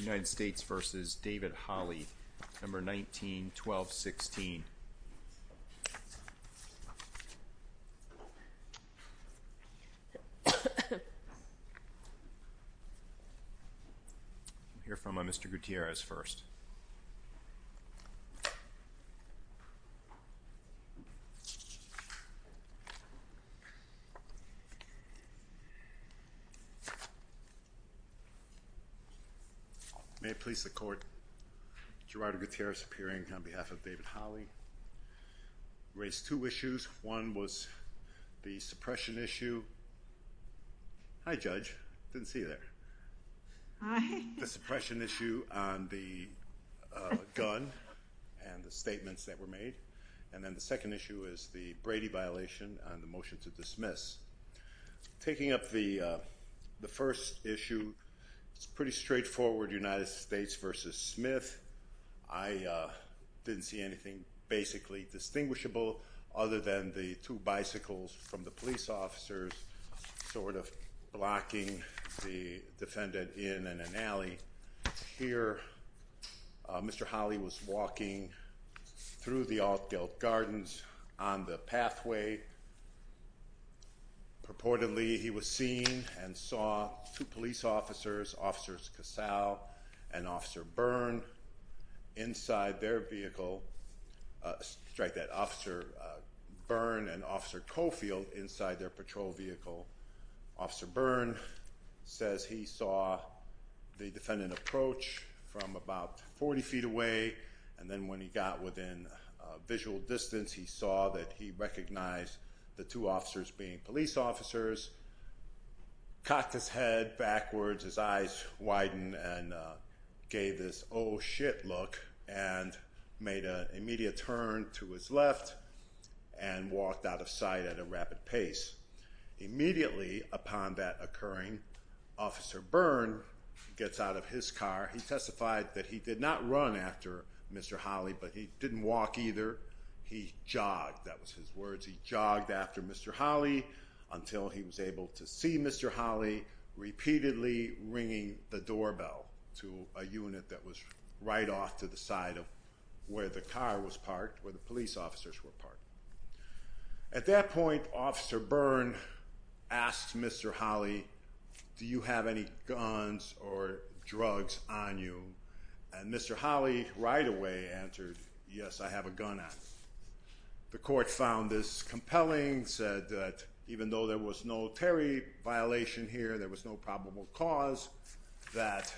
United States v. David Holly, number 191216. I'll hear from Mr. Gutierrez first. May it please the court, Gerardo Gutierrez appearing on behalf of David Holly. Raised two issues. One was the suppression issue. Hi, Judge. Didn't see you there. The suppression issue on the gun and the statements that were made. And then the second issue is the Brady violation and the motion to dismiss. Taking up the first issue, it's pretty straightforward, United States v. Smith. I didn't see anything basically distinguishable other than the two bicycles from the police officers sort of blocking the defendant in an alley. Here Mr. Holly was walking through the Altgeld Gardens on the pathway. Purportedly he was seen and saw two police officers, officers Casal and officer Byrne inside their vehicle. Sorry, that officer Byrne and officer Cofield inside their patrol vehicle. Officer Byrne says he saw the defendant approach from about 40 feet away. And then when he got within visual distance, he saw that he recognized the two officers being police officers. Cocked his head backwards, his eyes widened and gave this oh shit look and made an immediate turn to his left and walked out of sight at a rapid pace. Immediately upon that occurring, officer Byrne gets out of his car. He testified that he did not run after Mr. Holly but he didn't walk either. He jogged, that was his words, he jogged after Mr. Holly until he was able to see Mr. Holly repeatedly ringing the doorbell to a unit that was right off to the side of where the car was parked, where the police officers were parked. At that point, officer Byrne asks Mr. Holly, do you have any guns or drugs on you? And Mr. Holly right away answered, yes, I have a gun on me. The court found this compelling, said that even though there was no Terry violation here, there was no probable cause, that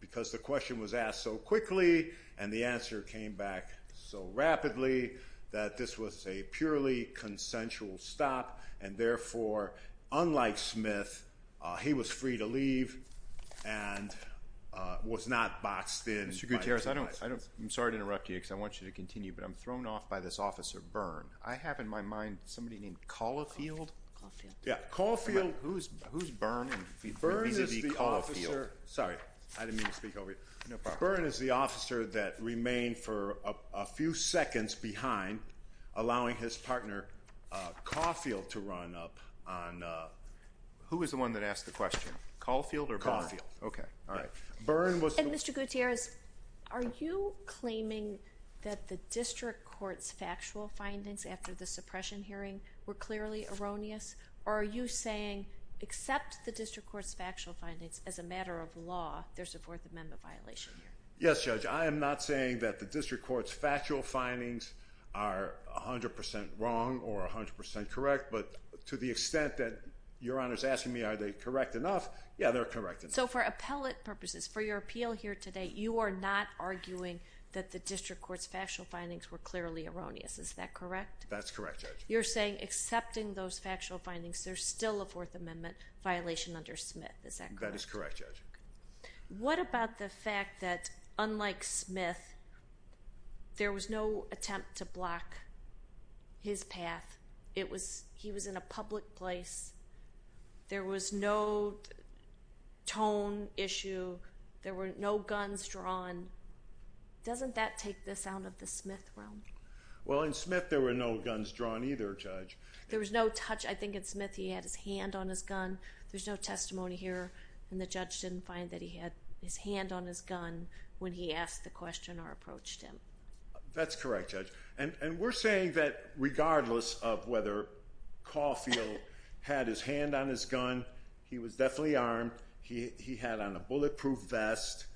because the question was asked so quickly and the answer came back so rapidly that this was a purely consensual stop and therefore, unlike Smith, he was free to leave and was not boxed in. Mr. Gutierrez, I'm sorry to interrupt you because I want you to continue, but I'm thrown off by this officer Byrne. I have in my mind somebody named Caulfield. Yeah, Caulfield. Who's Byrne? Byrne is the officer, sorry, I didn't mean to speak over you. Byrne is the officer that remained for a few seconds behind, allowing his partner Caulfield to run up on. Who was the one that asked the question? Caulfield or Byrne? Caulfield. Okay, all right. Mr. Gutierrez, are you claiming that the district court's factual findings after the suppression hearing were clearly erroneous, there's a Fourth Amendment violation here? Yes, Judge. I am not saying that the district court's factual findings are 100% wrong or 100% correct, but to the extent that Your Honor is asking me are they correct enough, yeah, they're correct enough. So for appellate purposes, for your appeal here today, you are not arguing that the district court's factual findings were clearly erroneous. Is that correct? That's correct, Judge. You're saying accepting those factual findings, there's still a Fourth Amendment violation under Smith. Is that correct? That is correct, Judge. What about the fact that unlike Smith, there was no attempt to block his path? He was in a public place. There was no tone issue. There were no guns drawn. Doesn't that take this out of the Smith realm? Well, in Smith there were no guns drawn either, Judge. There was no touch. I think in Smith he had his hand on his gun. There's no testimony here. And the judge didn't find that he had his hand on his gun when he asked the question or approached him. That's correct, Judge. And we're saying that regardless of whether Caulfield had his hand on his gun, he was definitely armed. He had on a bulletproof vest.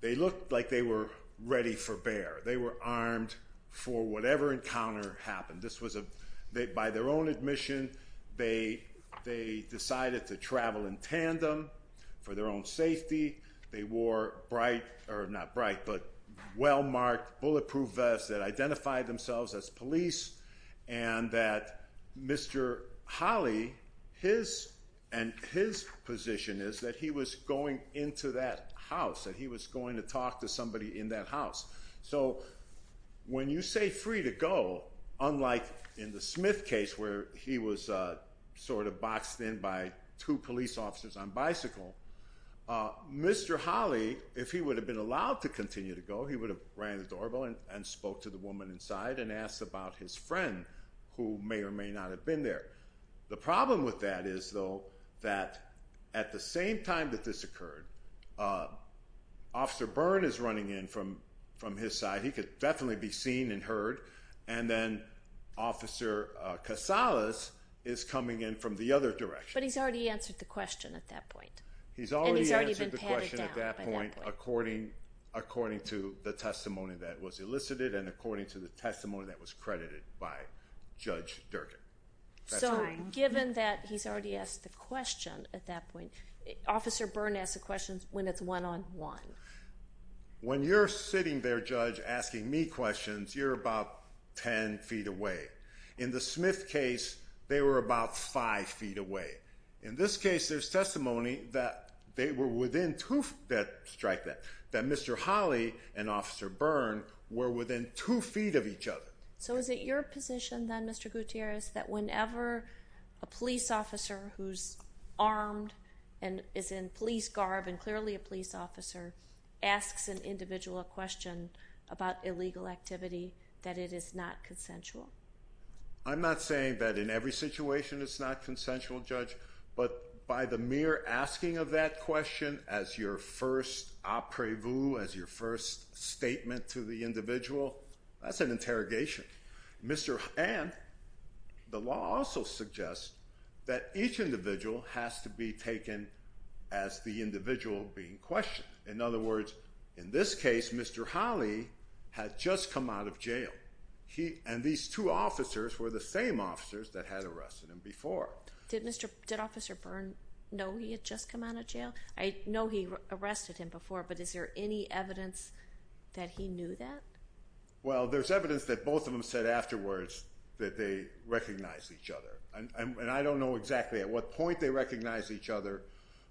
They looked like they were ready for bear. They were armed for whatever encounter happened. By their own admission, they decided to travel in tandem for their own safety. They wore well-marked bulletproof vests that identified themselves as police and that Mr. Holley, his position is that he was going into that house, that he was going to talk to somebody in that house. So when you say free to go, unlike in the Smith case where he was sort of boxed in by two police officers on bicycle, Mr. Holley, if he would have been allowed to continue to go, he would have ran the doorbell and spoke to the woman inside and asked about his friend who may or may not have been there. The problem with that is, though, that at the same time that this occurred, Officer Byrne is running in from his side. He could definitely be seen and heard, and then Officer Casales is coming in from the other direction. But he's already answered the question at that point. And he's already been patted down by that point. He's already answered the question at that point according to the testimony that was elicited and according to the testimony that was credited by Judge Durkin. So given that he's already asked the question at that point, Officer Byrne asks the questions when it's one-on-one. When you're sitting there, Judge, asking me questions, you're about 10 feet away. In the Smith case, they were about 5 feet away. In this case, there's testimony that they were within 2 feet of each other. That Mr. Holley and Officer Byrne were within 2 feet of each other. So is it your position then, Mr. Gutierrez, that whenever a police officer who's armed and is in police garb and clearly a police officer asks an individual a question about illegal activity, that it is not consensual? I'm not saying that in every situation it's not consensual, Judge. But by the mere asking of that question as your first apres-vous, as your first statement to the individual, that's an interrogation. And the law also suggests that each individual has to be taken as the individual being questioned. In other words, in this case, Mr. Holley had just come out of jail. And these two officers were the same officers that had arrested him before. Did Officer Byrne know he had just come out of jail? I know he arrested him before, but is there any evidence that he knew that? Well, there's evidence that both of them said afterwards that they recognized each other. And I don't know exactly at what point they recognized each other,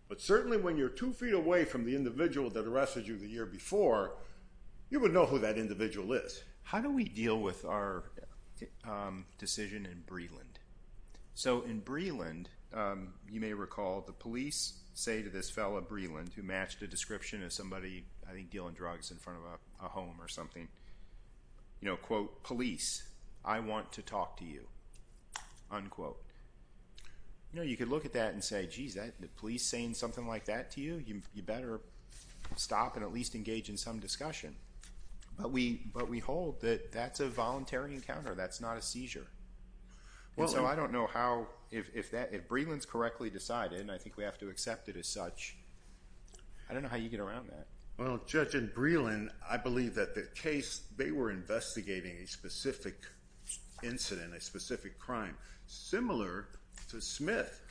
but certainly when you're 2 feet away from the individual that arrested you the year before, you would know who that individual is. How do we deal with our decision in Breland? So in Breland, you may recall the police say to this fellow in Breland who matched a description of somebody, I think, you know, quote, police, I want to talk to you, unquote. You know, you could look at that and say, geez, the police saying something like that to you? You better stop and at least engage in some discussion. But we hold that that's a voluntary encounter. That's not a seizure. And so I don't know how, if Breland's correctly decided, and I think we have to accept it as such, I don't know how you get around that. Well, Judge, in Breland, I believe that the case, they were investigating a specific incident, a specific crime, similar to Smith.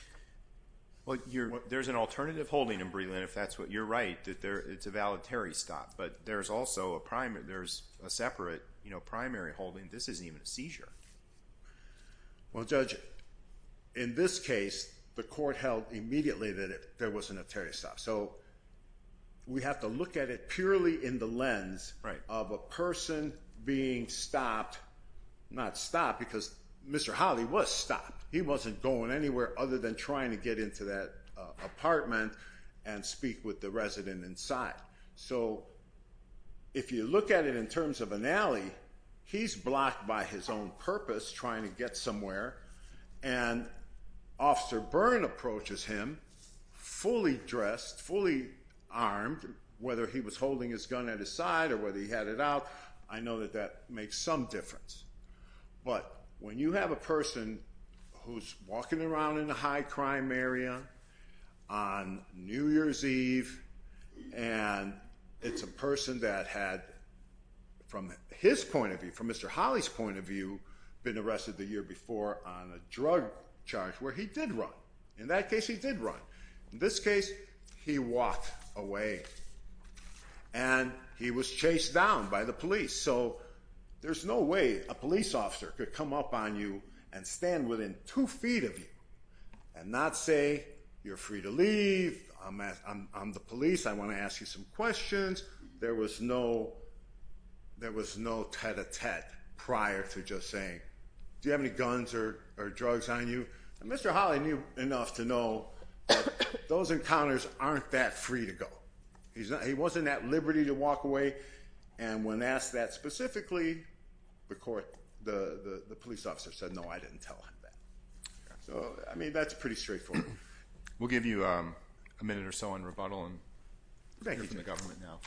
There's an alternative holding in Breland, if that's what you're right, that it's a voluntary stop. But there's also a separate, you know, primary holding. This isn't even a seizure. Well, Judge, in this case, the court held immediately that there was a notary stop. So we have to look at it purely in the lens of a person being stopped, not stopped because Mr. Holly was stopped. He wasn't going anywhere other than trying to get into that apartment and speak with the resident inside. So if you look at it in terms of an alley, he's blocked by his own purpose trying to get somewhere, and Officer Byrne approaches him fully dressed, fully armed, whether he was holding his gun at his side or whether he had it out. I know that that makes some difference. But when you have a person who's walking around in a high-crime area on New Year's Eve and it's a person that had, from his point of view, from Mr. Holly's point of view, been arrested the year before on a drug charge where he did run. In that case, he did run. In this case, he walked away, and he was chased down by the police. So there's no way a police officer could come up on you and stand within two feet of you and not say, you're free to leave, I'm the police, I want to ask you some questions. There was no tête-à-tête prior to just saying, do you have any guns or drugs on you? And Mr. Holly knew enough to know that those encounters aren't that free to go. He wasn't at liberty to walk away, and when asked that specifically, the police officer said, no, I didn't tell him that. So, I mean, that's pretty straightforward. We'll give you a minute or so in rebuttal and hear from the government now.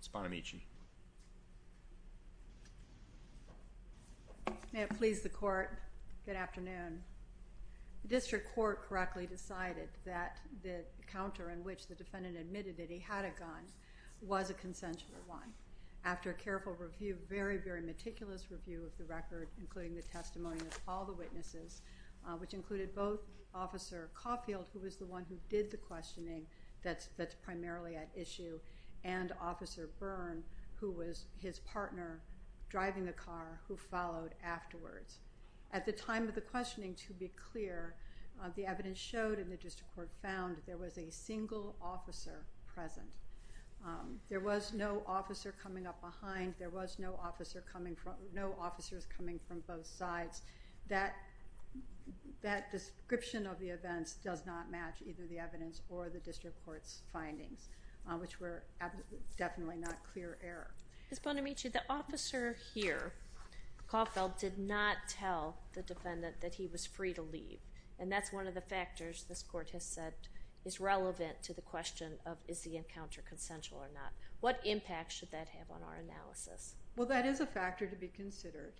Ms. Bonamici. May it please the Court, good afternoon. The district court correctly decided that the encounter in which the defendant admitted that he had a gun was a consensual one. After a careful review, very, very meticulous review of the record, including the testimony of all the witnesses, which included both Officer Caulfield, who was the one who did the questioning that's primarily at issue, and Officer Byrne, who was his partner driving the car, who followed afterwards. At the time of the questioning, to be clear, the evidence showed and the district court found there was a single officer present. There was no officer coming up behind. There was no officers coming from both sides. That description of the events does not match either the evidence or the district court's findings, which were definitely not clear error. Ms. Bonamici, the officer here, Caulfield, did not tell the defendant that he was free to leave, and that's one of the factors this Court has said is relevant to the question of is the encounter consensual or not. What impact should that have on our analysis? Well, that is a factor to be considered.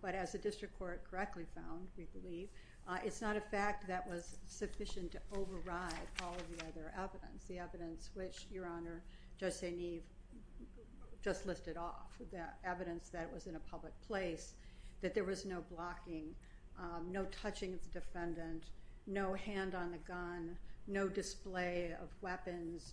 But as the district court correctly found, we believe, it's not a fact that was sufficient to override all of the other evidence, the evidence which, Your Honor, Judge St. Eve just listed off, the evidence that was in a public place, that there was no blocking, no touching of the defendant, no hand on the gun, no display of weapons,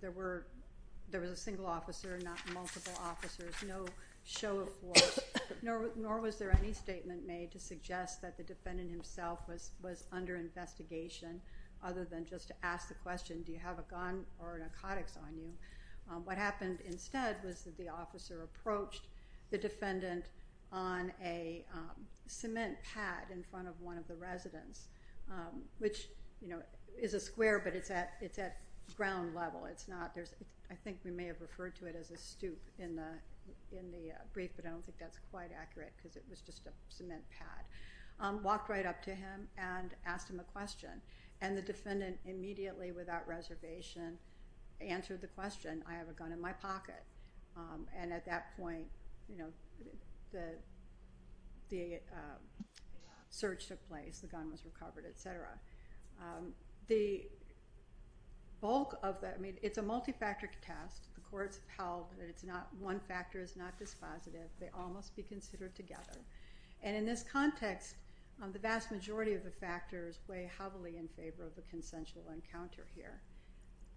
there was a single officer and not multiple officers, no show of force, nor was there any statement made to suggest that the defendant himself was under investigation other than just to ask the question, do you have a gun or narcotics on you? What happened instead was that the officer approached the defendant on a cement pad in front of one of the residents, which is a square, but it's at ground level. I think we may have referred to it as a stoop in the brief, but I don't think that's quite accurate because it was just a cement pad. Walked right up to him and asked him a question, and the defendant immediately without reservation answered the question, I have a gun in my pocket. And at that point, the search took place, the gun was recovered, et cetera. It's a multi-factor test. The courts have held that one factor is not dispositive. They all must be considered together. And in this context, the vast majority of the factors weigh heavily in favor of a consensual encounter here.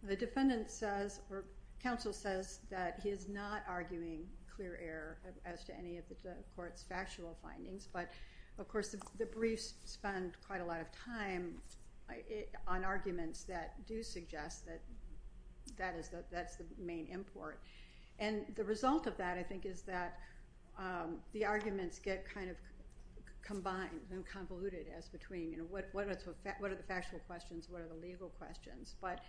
The defendant says, or counsel says that he is not arguing clear error as to any of the court's factual findings, but of course the briefs spend quite a lot of time on arguments that do suggest that that's the main import. And the result of that, I think, is that the arguments get kind of combined and convoluted as between what are the factual questions, what are the legal questions. But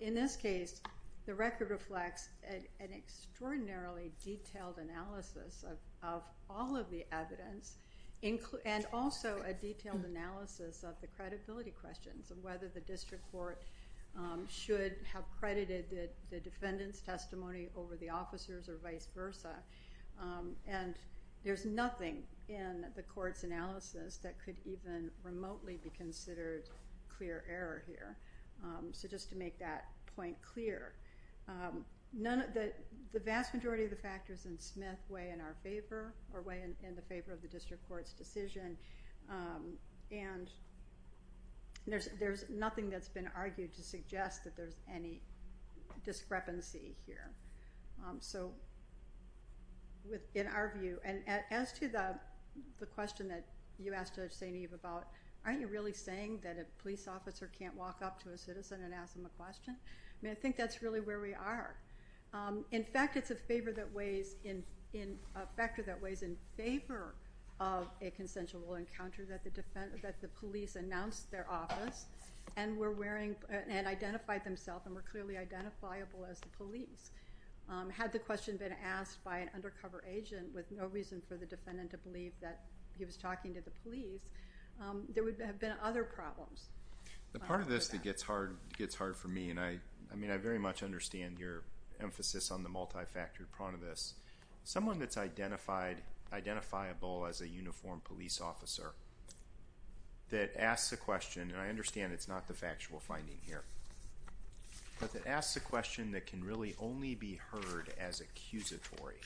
in this case, the record reflects an extraordinarily detailed analysis of all of the evidence and also a detailed analysis of the credibility questions of whether the district court should have credited the defendant's testimony over the officer's or vice versa. And there's nothing in the court's analysis that could even remotely be considered clear error here. So just to make that point clear, the vast majority of the factors in Smith weigh in our favor or weigh in the favor of the district court's decision. And there's nothing that's been argued to suggest that there's any discrepancy here. So in our view, and as to the question that you asked Judge St. Eve about, aren't you really saying that a police officer can't walk up to a citizen and ask them a question? I mean, I think that's really where we are. In fact, it's a factor that weighs in favor of a consensual encounter that the police announced their office and identified themselves and were clearly identifiable as the police. Had the question been asked by an undercover agent with no reason for the defendant to believe that he was talking to the police, there would have been other problems. The part of this that gets hard for me, and I very much understand your emphasis on the multi-factor part of this, someone that's identifiable as a uniformed police officer that asks a question, and I understand it's not the factual finding here, but that asks a question that can really only be heard as accusatory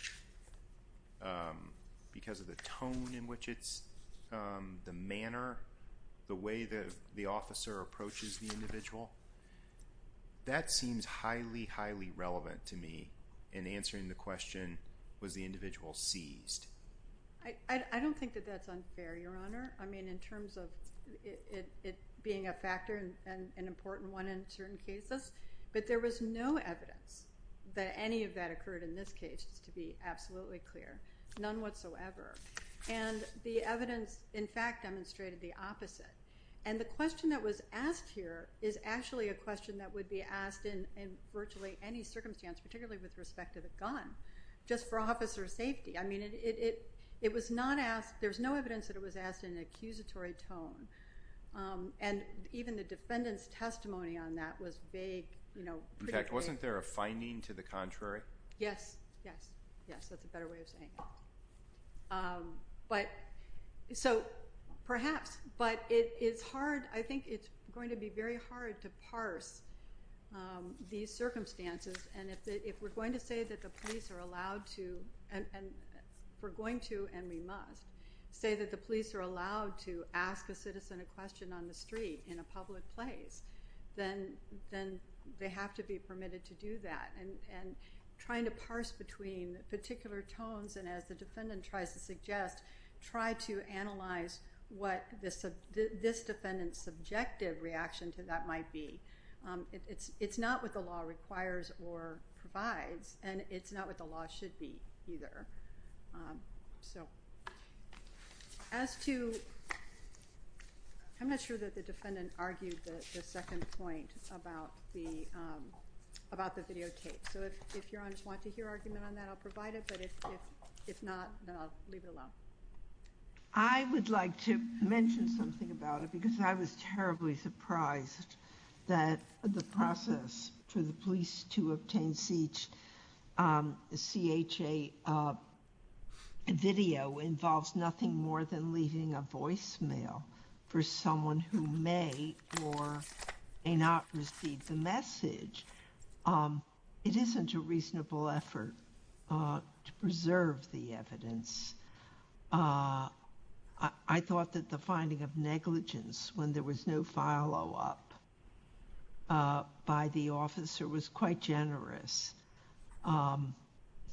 because of the tone in which it's, the manner, the way the officer approaches the individual, that seems highly, highly relevant to me in answering the question, was the individual seized? I don't think that that's unfair, Your Honor. I mean, in terms of it being a factor and an important one in certain cases, but there was no evidence that any of that occurred in this case, just to be absolutely clear, none whatsoever. And the evidence, in fact, demonstrated the opposite. And the question that was asked here is actually a question that would be asked in virtually any circumstance, particularly with respect to the gun, just for officer safety. I mean, it was not asked, there was no evidence that it was asked in an accusatory tone, and even the defendant's testimony on that was vague. In fact, wasn't there a finding to the contrary? Yes, yes, yes. That's a better way of saying it. But so perhaps, but it is hard. I think it's going to be very hard to parse these circumstances, and if we're going to say that the police are allowed to, and we're going to and we must, say that the police are allowed to ask a citizen a question on the street in a public place, then they have to be permitted to do that. And trying to parse between particular tones, and as the defendant tries to suggest, try to analyze what this defendant's subjective reaction to that might be. It's not what the law requires or provides, and it's not what the law should be either. I'm not sure that the defendant argued the second point about the videotape. So if your honors want to hear argument on that, I'll provide it. But if not, then I'll leave it alone. I would like to mention something about it, that the process for the police to obtain CHA video involves nothing more than leaving a voicemail for someone who may or may not receive the message. It isn't a reasonable effort to preserve the evidence. I thought that the finding of negligence when there was no follow-up by the officer was quite generous. It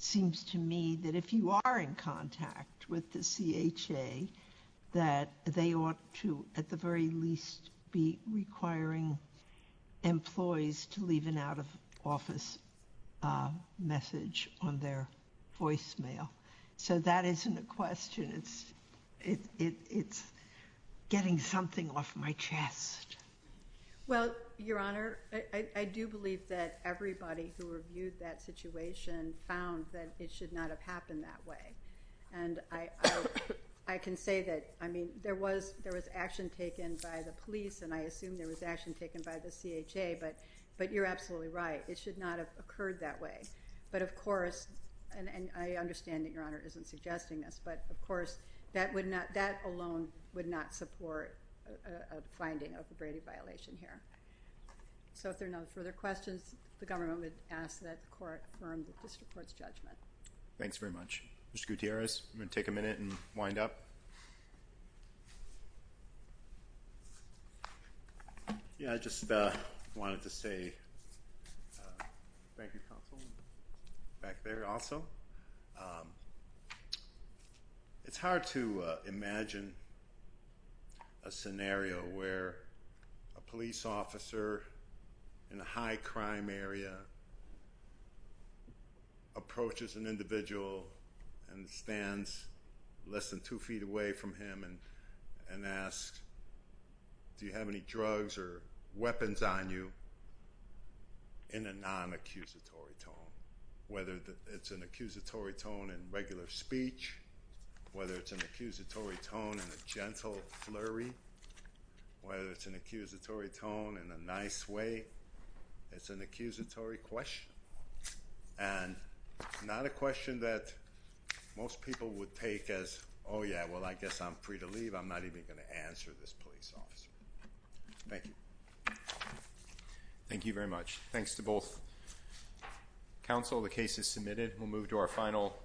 seems to me that if you are in contact with the CHA, that they ought to, at the very least, be requiring employees to leave an out-of-office message on their voicemail. So that isn't a question. It's getting something off my chest. Well, Your Honor, I do believe that everybody who reviewed that situation found that it should not have happened that way. And I can say that, I mean, there was action taken by the police, and I assume there was action taken by the CHA, but you're absolutely right. It should not have occurred that way. But, of course, and I understand that Your Honor isn't suggesting this, but, of course, that alone would not support a finding of a Brady violation here. So if there are no further questions, the government would ask that the Court affirm the District Court's judgment. Thanks very much. Mr. Gutierrez, you want to take a minute and wind up? Yeah, I just wanted to say thank you, Counsel, back there also. It's hard to imagine a scenario where a police officer in a high-crime area approaches an individual and stands less than two feet away from him and asks, do you have any drugs or weapons on you, in a non-accusatory tone, whether it's an accusatory tone in regular speech, whether it's an accusatory tone in a gentle flurry, whether it's an accusatory tone in a nice way. It's an accusatory question and not a question that most people would take as, oh, yeah, well, I guess I'm free to leave. I'm not even going to answer this police officer. Thank you. Thank you very much. Thanks to both Counsel. The case is submitted. We'll move to our final.